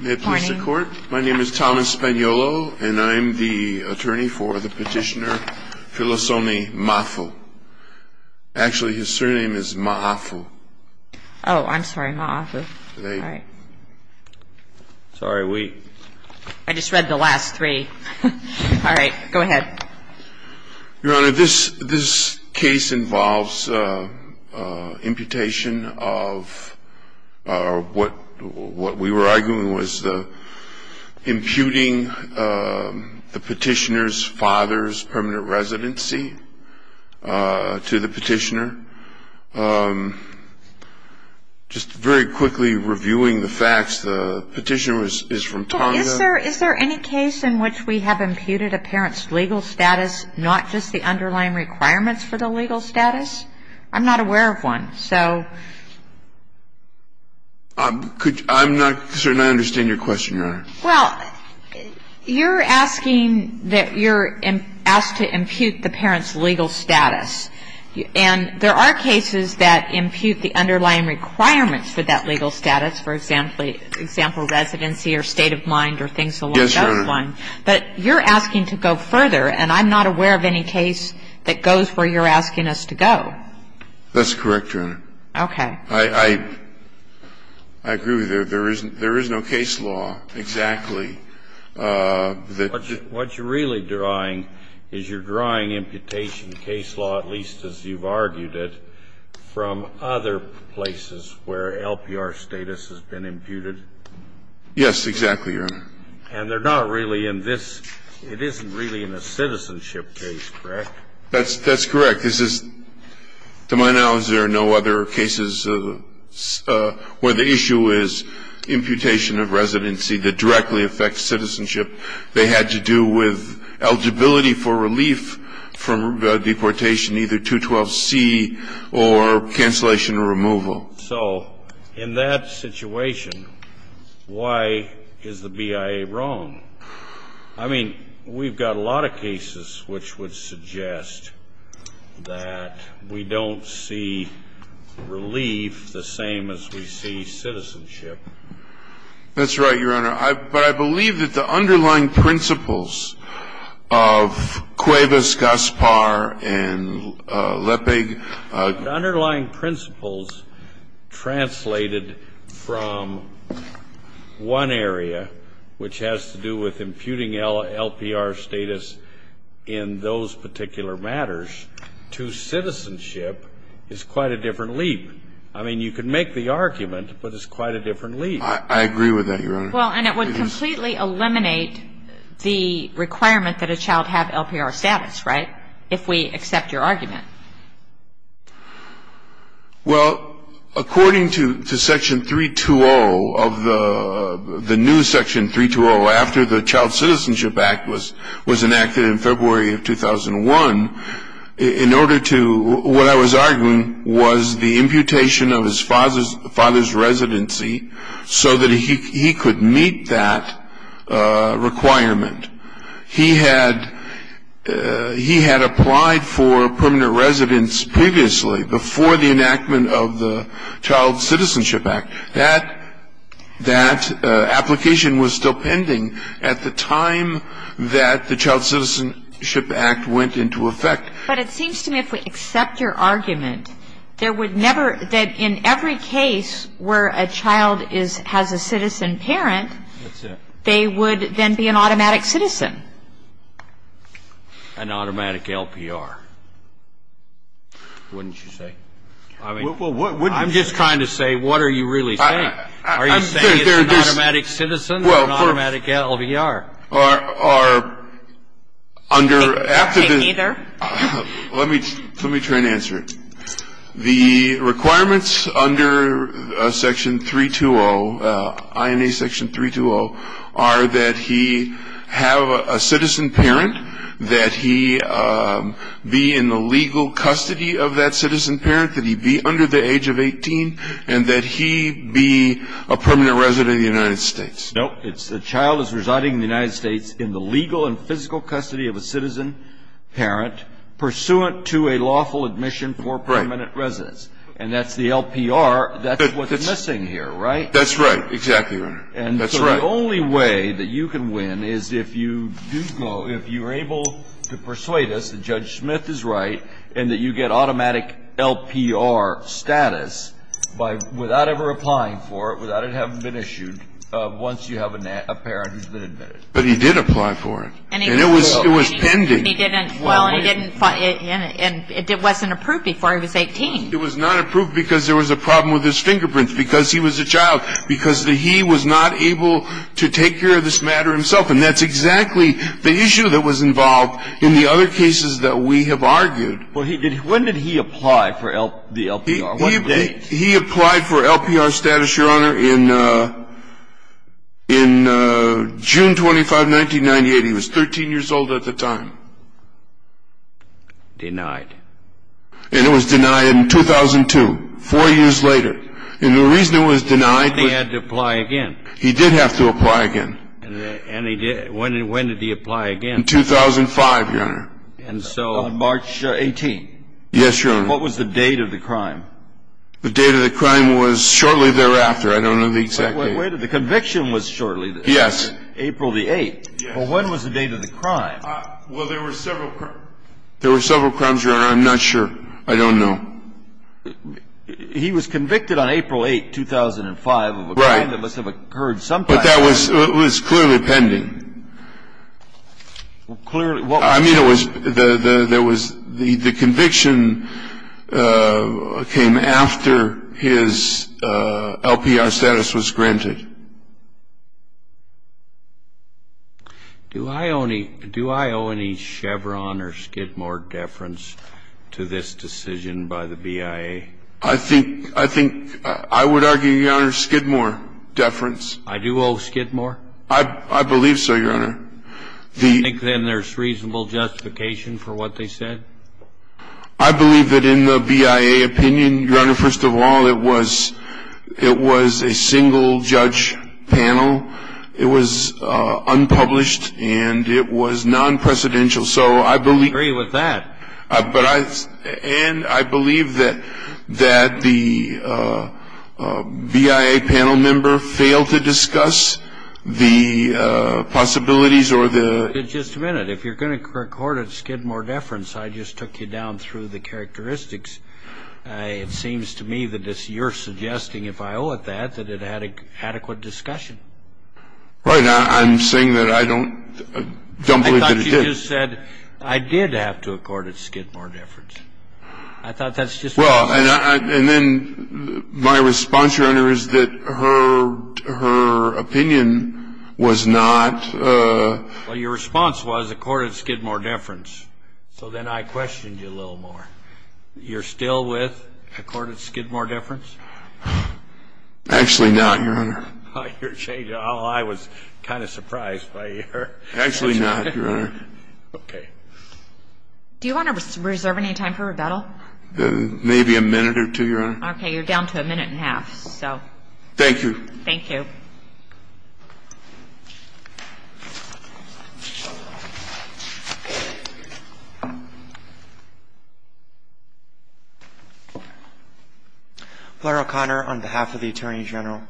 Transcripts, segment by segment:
May it please the court, my name is Thomas Spagnolo and I'm the attorney for the petitioner Filisone Ma Afu. Actually his surname is Ma Afu. Oh, I'm sorry, Ma Afu. Sorry, wait. I just read the last three. Alright, go ahead. Your Honor, this case involves imputation of what we were arguing was imputing the petitioner's father's permanent residency to the petitioner. Just very quickly reviewing the facts, the petitioner is from Tonga. Is there any case in which we have imputed a parent's legal status, not just the underlying requirements for the legal status? I'm not aware of one, so. I'm not certain I understand your question, Your Honor. Well, you're asking that you're asked to impute the parent's legal status. And there are cases that impute the underlying requirements for that legal status. And I'm not aware of any case that goes where you're asking us to go. That's correct, Your Honor. Okay. I agree with you. There is no case law exactly that. What you're really drawing is you're drawing imputation case law, at least as you've from other places where LPR status has been imputed. Yes, exactly, Your Honor. And they're not really in this. It isn't really in a citizenship case, correct? That's correct. This is, to my knowledge, there are no other cases where the issue is imputation of residency that directly affects citizenship. They had to do with eligibility for relief from deportation, either 212C or cancellation or removal. So in that situation, why is the BIA wrong? I mean, we've got a lot of cases which would suggest that we don't see relief the same as we see citizenship. That's right, Your Honor. But I believe that the underlying principles of Cuevas, Gaspar, and Lepig. The underlying principles translated from one area, which has to do with imputing LPR status in those particular matters, to citizenship is quite a different leap. I mean, you can make the argument, but it's quite a different leap. I agree with that, Your Honor. Well, and it would completely eliminate the requirement that a child have LPR status, right, if we accept your argument. Well, according to Section 320 of the new Section 320, after the Child Citizenship Act was enacted in February of 2001, in order to, what I was arguing was the imputation of his father's residency so that he could meet that requirement. He had applied for permanent residence previously, before the enactment of the Child Citizenship Act. That application was still pending at the time that the Child Citizenship Act went into effect. But it seems to me if we accept your argument, there would never, that in every case where a child has a citizen parent, they would then be an automatic citizen. An automatic LPR, wouldn't you say? I'm just trying to say, what are you really saying? Are you saying it's an automatic citizen or an automatic LPR? Well, our, under, after the, let me try and answer it. The requirements under Section 320, INA Section 320, are that he have a citizen parent, that he be in the legal custody of that citizen parent, that he be under the age of 18, and that he be a permanent resident of the United States. No, it's the child is residing in the United States in the legal and physical custody of a citizen parent, pursuant to a lawful admission for permanent residence. Right. And that's the LPR. That's what's missing here, right? That's right, exactly right. That's right. The only way that you can win is if you do go, if you're able to persuade us that Judge Smith is right and that you get automatic LPR status by, without ever applying for it, without it having been issued, once you have a parent who's been admitted. But he did apply for it. And he did. And it was pending. Well, and he didn't, and it wasn't approved before he was 18. It was not approved because there was a problem with his fingerprints, because he was a child, because he was not able to take care of this matter himself. And that's exactly the issue that was involved in the other cases that we have argued. Well, when did he apply for the LPR? What date? He applied for LPR status, Your Honor, in June 25, 1998. He was 13 years old at the time. Denied. And it was denied in 2002, four years later. And the reason it was denied was he had to apply again. He did have to apply again. And he did. When did he apply again? In 2005, Your Honor. On March 18? Yes, Your Honor. What was the date of the crime? The date of the crime was shortly thereafter. I don't know the exact date. Wait a minute. The conviction was shortly thereafter. Yes. April the 8th. Yes. Well, when was the date of the crime? Well, there were several crimes, Your Honor. I'm not sure. I don't know. He was convicted on April 8, 2005. Right. Of a crime that must have occurred sometime. But that was clearly pending. Clearly. I mean, it was the conviction came after his LPR status was granted. Do I owe any Chevron or Skidmore deference to this decision by the BIA? I think I would argue, Your Honor, Skidmore deference. I do owe Skidmore? I believe so, Your Honor. Do you think then there's reasonable justification for what they said? I believe that in the BIA opinion, Your Honor, first of all, it was a single-judge panel. It was unpublished, and it was non-precedential. So I believe. I agree with that. And I believe that the BIA panel member failed to discuss the possibilities or the... It seems to me that you're suggesting, if I owe it that, that it had adequate discussion. Right. I'm saying that I don't believe that it did. I thought you just said, I did have to accord it Skidmore deference. I thought that's just... Well, and then my response, Your Honor, is that her opinion was not... Well, your response was, accord it Skidmore deference. So then I questioned you a little more. You're still with accord it Skidmore deference? Actually not, Your Honor. Oh, I was kind of surprised by your... Actually not, Your Honor. Okay. Do you want to reserve any time for rebuttal? Maybe a minute or two, Your Honor. Okay. You're down to a minute and a half. Thank you. Thank you. Mr. O'Connor, on behalf of the Attorney General.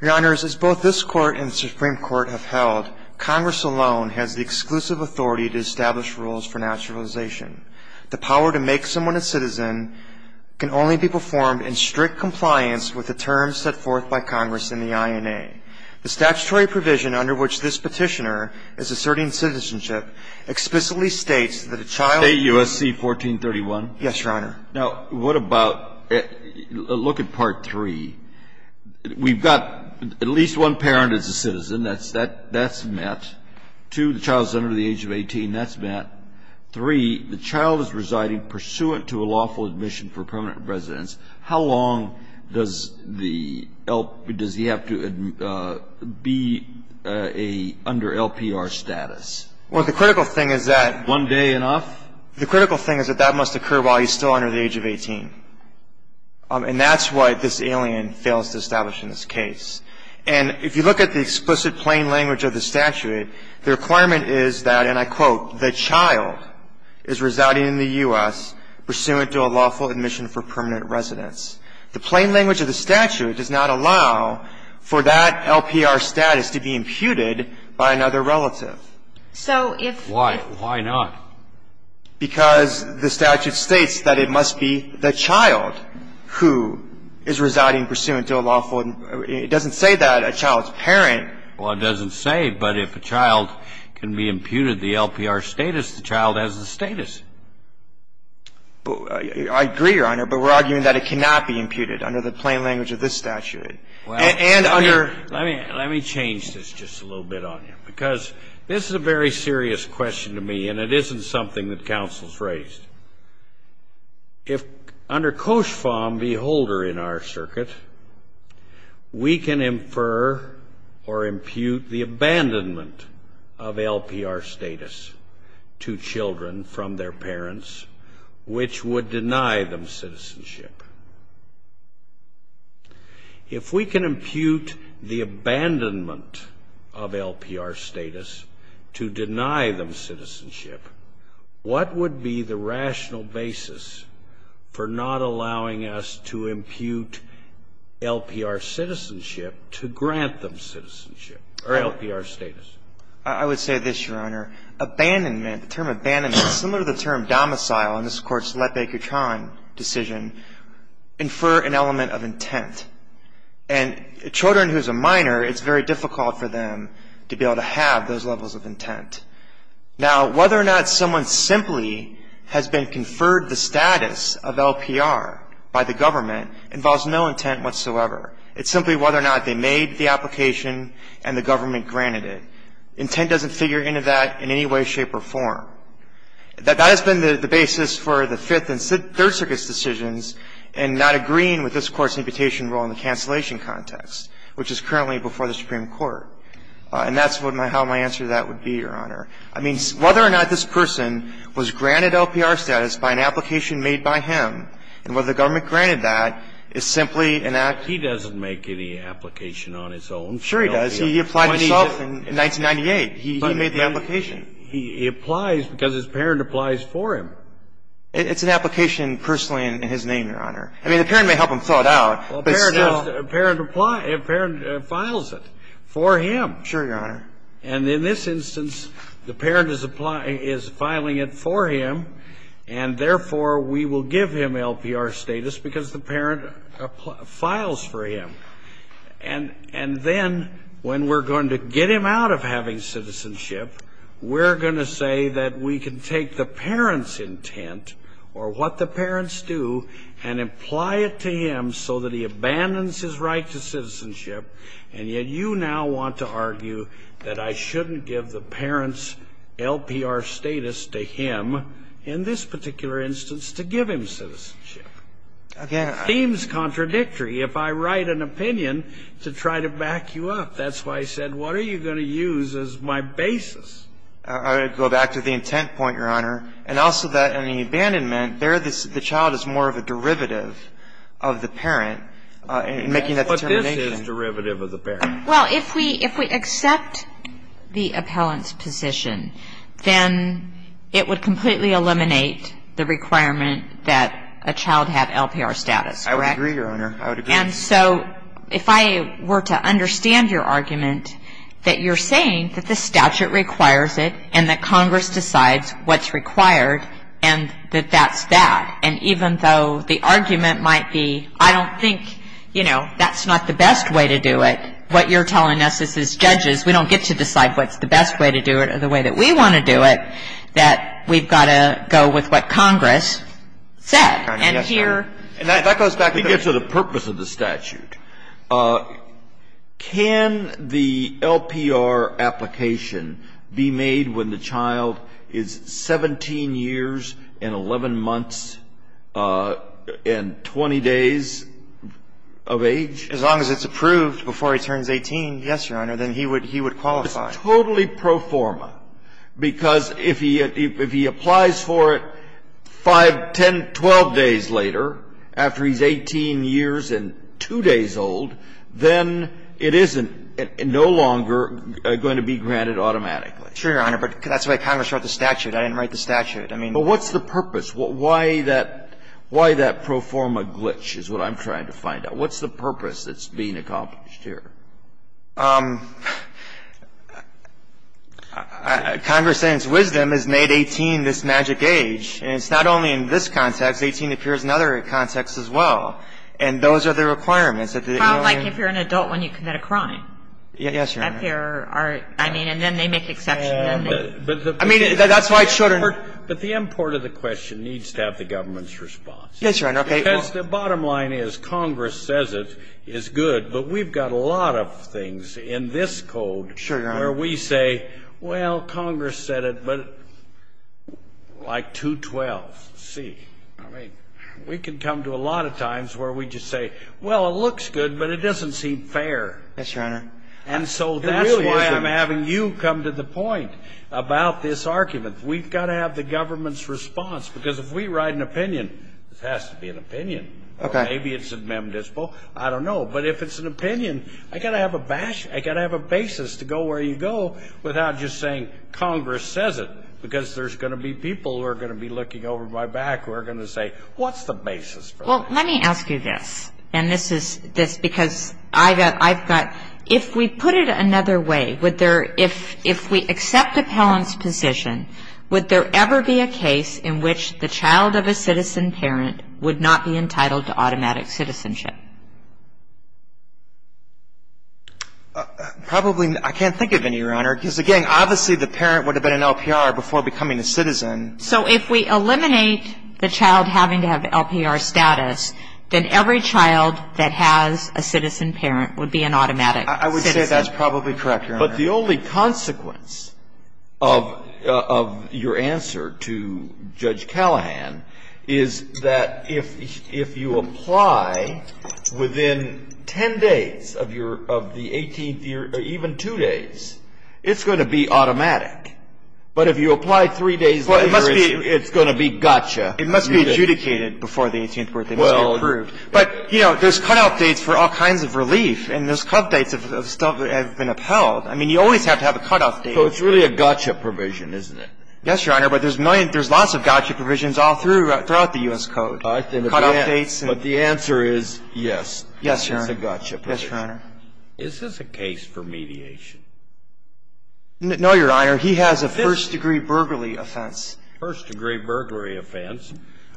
Your Honors, as both this Court and the Supreme Court have held, Congress alone has the exclusive authority to establish rules for naturalization. The power to make someone a citizen can only be performed in strict compliance with the terms set forth by Congress in the I.N.A. The statutory provision under which this Petitioner is asserting citizenship explicitly states that a child... State U.S.C. 1431? Yes, Your Honor. Now, what about, look at Part 3. We've got at least one parent is a citizen. That's met. Two, the child is under the age of 18. That's met. Three, the child is residing pursuant to a lawful admission for permanent residence. How long does the L.P.R. Does he have to be under L.P.R. status? Well, the critical thing is that... One day enough? The critical thing is that that must occur while he's still under the age of 18. And that's what this alien fails to establish in this case. And if you look at the explicit plain language of the statute, the requirement is that, and I quote, the child is residing in the U.S. pursuant to a lawful admission for permanent residence. The plain language of the statute does not allow for that L.P.R. status to be imputed by another relative. So if... Why? Why not? Because the statute states that it must be the child who is residing pursuant to a lawful... It doesn't say that a child's parent. Well, it doesn't say, but if a child can be imputed the L.P.R. status, the child has the status. I agree, Your Honor, but we're arguing that it cannot be imputed under the plain language of this statute. And under... Let me change this just a little bit on you. Because this is a very serious question to me, and it isn't something that counsel has raised. If... Under Cauchembeholder in our circuit, we can infer or impute the abandonment of L.P.R. status to children from their parents, which would deny them citizenship. If we can impute the abandonment of L.P.R. status to deny them citizenship, what would be the rational basis for not allowing us to impute L.P.R. citizenship to grant them citizenship or L.P.R. I would say this, Your Honor. Abandonment, the term abandonment, is similar to the term domicile in this Court's And children who's a minor, it's very difficult for them to be able to have those levels of intent. Now, whether or not someone simply has been conferred the status of L.P.R. by the government involves no intent whatsoever. It's simply whether or not they made the application and the government granted it. Intent doesn't figure into that in any way, shape, or form. That has been the basis for the Fifth and Third Circuit's decisions in not agreeing with this Court's imputation rule in the cancellation context, which is currently before the Supreme Court. And that's how my answer to that would be, Your Honor. I mean, whether or not this person was granted L.P.R. status by an application made by him and whether the government granted that is simply an act. He doesn't make any application on his own. Sure he does. He applied himself in 1998. He made the application. He applies because his parent applies for him. It's an application personally in his name, Your Honor. I mean, the parent may help him thaw it out, but still. A parent applies. A parent files it for him. Sure, Your Honor. And in this instance, the parent is filing it for him, and therefore, we will give him L.P.R. status because the parent files for him. And then when we're going to get him out of having citizenship, we're going to say that we can take the parent's intent or what the parents do and apply it to him so that he abandons his right to citizenship, and yet you now want to argue that I shouldn't give the parent's L.P.R. status to him in this particular instance to give him citizenship. Okay. It seems contradictory if I write an opinion to try to back you up. That's why I said, what are you going to use as my basis? I would go back to the intent point, Your Honor, and also that in the abandonment, there the child is more of a derivative of the parent in making that determination. But this is derivative of the parent. Well, if we accept the appellant's position, then it would completely eliminate the requirement that a child have L.P.R. status, correct? I would agree, Your Honor. I would agree. And so if I were to understand your argument that you're saying that this statute requires it and that Congress decides what's required and that that's that, and even though the argument might be, I don't think, you know, that's not the best way to do it, what you're telling us as judges, we don't get to decide what's the best way to do it or the way that we want to do it, that we've got to go with what Congress said. And here that goes back to the purpose of the statute. Can the L.P.R. application be made when the child is 17 years and 11 months and 20 days of age? As long as it's approved before he turns 18, yes, Your Honor, then he would qualify. Totally pro forma, because if he applies for it 5, 10, 12 days later, after he's 18 years and 2 days old, then it isn't no longer going to be granted automatically. Sure, Your Honor. But that's why Congress wrote the statute. I didn't write the statute. I mean the purpose. But what's the purpose? Why that pro forma glitch is what I'm trying to find out. What's the purpose that's being accomplished here? Congress's wisdom has made 18 this magic age, and it's not only in this context. It's not only in this context. It's not only the age of 18, but the age of 18 appears in other contexts as well. And those are the requirements that the L.A. I don't know if you're an adult when you commit a crime. Yes, Your Honor. I mean, and then they make exceptions and then they do. I mean, that's why children are. But the import of the question needs to have the government's response. Yes, Your Honor. Because the bottom line is, Congress says it is good, but we've got a lot of things in this code where we say, well, Congress said it, but like 212C. I mean, we can come to a lot of times where we just say, well, it looks good, but it doesn't seem fair. Yes, Your Honor. And so that's why I'm having you come to the point about this argument. We've got to have the government's response. Because if we write an opinion, it has to be an opinion. Okay. Or maybe it's a mem dispo. I don't know. But if it's an opinion, I've got to have a basis to go where you go without just saying, Congress says it, because there's going to be people who are going to be looking over my back who are going to say, what's the basis for that? Well, let me ask you this. And this is because I've got, if we put it another way, if we accept a parent's position, would there ever be a case in which the child of a citizen parent would not be entitled to automatic citizenship? Probably not. I can't think of any, Your Honor. Because, again, obviously the parent would have been an LPR before becoming a citizen. So if we eliminate the child having to have LPR status, then every child that has a citizen parent would be an automatic citizen. I would say that's probably correct, Your Honor. But the only consequence of your answer to Judge Callahan is that if you apply within ten days of the 18th year, or even two days, it's going to be automatic. But if you apply three days later, it's going to be gotcha. It must be adjudicated before the 18th birthday. It must be approved. But, you know, there's cutout dates for all kinds of relief. And those cutout dates have been upheld. I mean, you always have to have a cutout date. So it's really a gotcha provision, isn't it? Yes, Your Honor. But there's lots of gotcha provisions all throughout the U.S. Code. But the answer is yes. Yes, Your Honor. It's a gotcha provision. Yes, Your Honor. Is this a case for mediation? No, Your Honor. He has a first-degree burglary offense. First-degree burglary offense?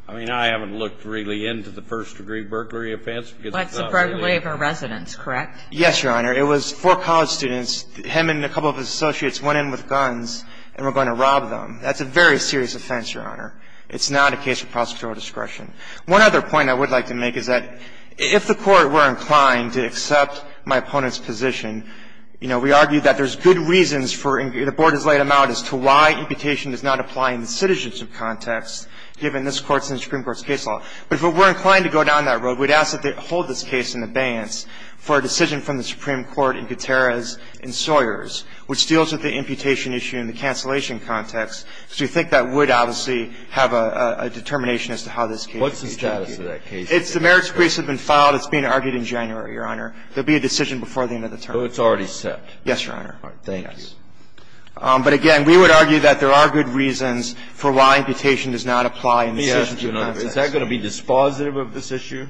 I mean, I haven't looked really into the first-degree burglary offense. But it's a burglary of a residence, correct? Yes, Your Honor. It was four college students. Him and a couple of his associates went in with guns and were going to rob them. That's a very serious offense, Your Honor. It's not a case of prosecutorial discretion. One other point I would like to make is that if the Court were inclined to accept my opponent's position, you know, we argue that there's good reasons for the board has laid them out as to why imputation does not apply in the citizenship context, given this Court's and the Supreme Court's case law. But if we were inclined to go down that road, we'd ask that they hold this case in abeyance for a decision from the Supreme Court in Gutierrez and Sawyers, which deals with the imputation issue in the cancellation context. So we think that would obviously have a determination as to how this case is going to be treated. What's the status of that case? It's the merits of the case have been filed. It's being argued in January, Your Honor. There will be a decision before the end of the term. So it's already set? Yes, Your Honor. All right. Thank you. But, again, we would argue that there are good reasons for why imputation does not apply in the citizenship context. Is that going to be dispositive of this issue?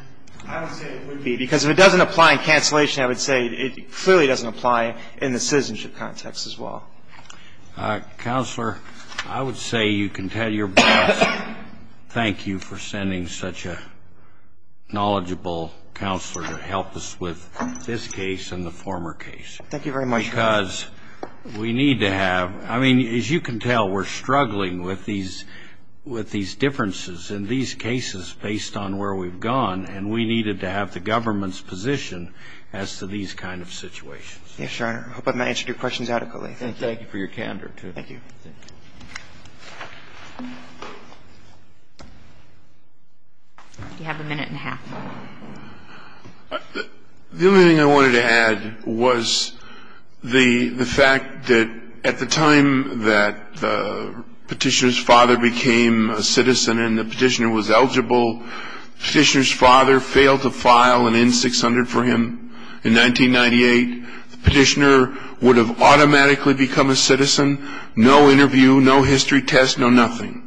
I would say it would be, because if it doesn't apply in cancellation, I would say it clearly doesn't apply in the citizenship context as well. Counselor, I would say you can tell your boss thank you for sending such a knowledgeable counselor to help us with this case and the former case. Thank you very much, Your Honor. And I would say that we are struggling with these differences in these cases, because we need to have – I mean, as you can tell, we are struggling with these differences in these cases based on where we have gone, and we needed to have the government's position as to these kind of situations. Yes, Your Honor. I hope I have answered your questions adequately. Thank you. Thank you for your candor, too. Thank you. Do you have a minute and a half? The only thing I wanted to add was the fact that at the time that the Petitioner's father became a citizen and the Petitioner was eligible, the Petitioner's father failed to file an N-600 for him in 1998. The Petitioner would have automatically become a citizen, no interview, no history test, no nothing.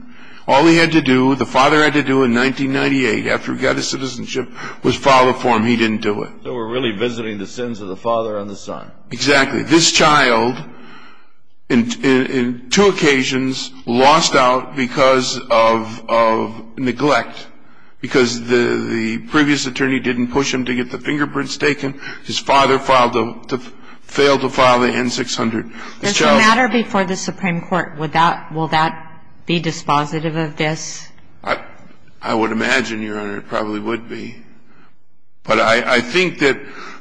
All he had to do, the father had to do in 1998, after he got his citizenship, was file it for him. He didn't do it. So we're really visiting the sins of the father and the son. Exactly. This child, in two occasions, lost out because of neglect, because the previous attorney didn't push him to get the fingerprints taken. His father failed to file the N-600. Does it matter before the Supreme Court, will that be dispositive of this? I would imagine, Your Honor, it probably would be. But I think that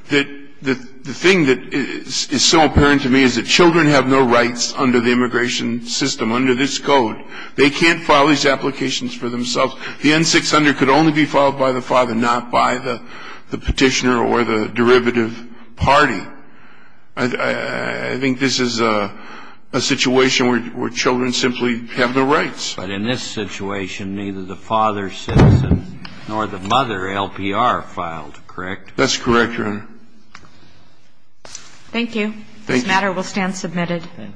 the thing that is so apparent to me is that children have no rights under the immigration system, under this code. They can't file these applications for themselves. The N-600 could only be filed by the father, not by the Petitioner or the derivative party. I think this is a situation where children simply have no rights. But in this situation, neither the father's citizen nor the mother, LPR, filed, correct? That's correct, Your Honor. Thank you. Thank you. This matter will stand submitted.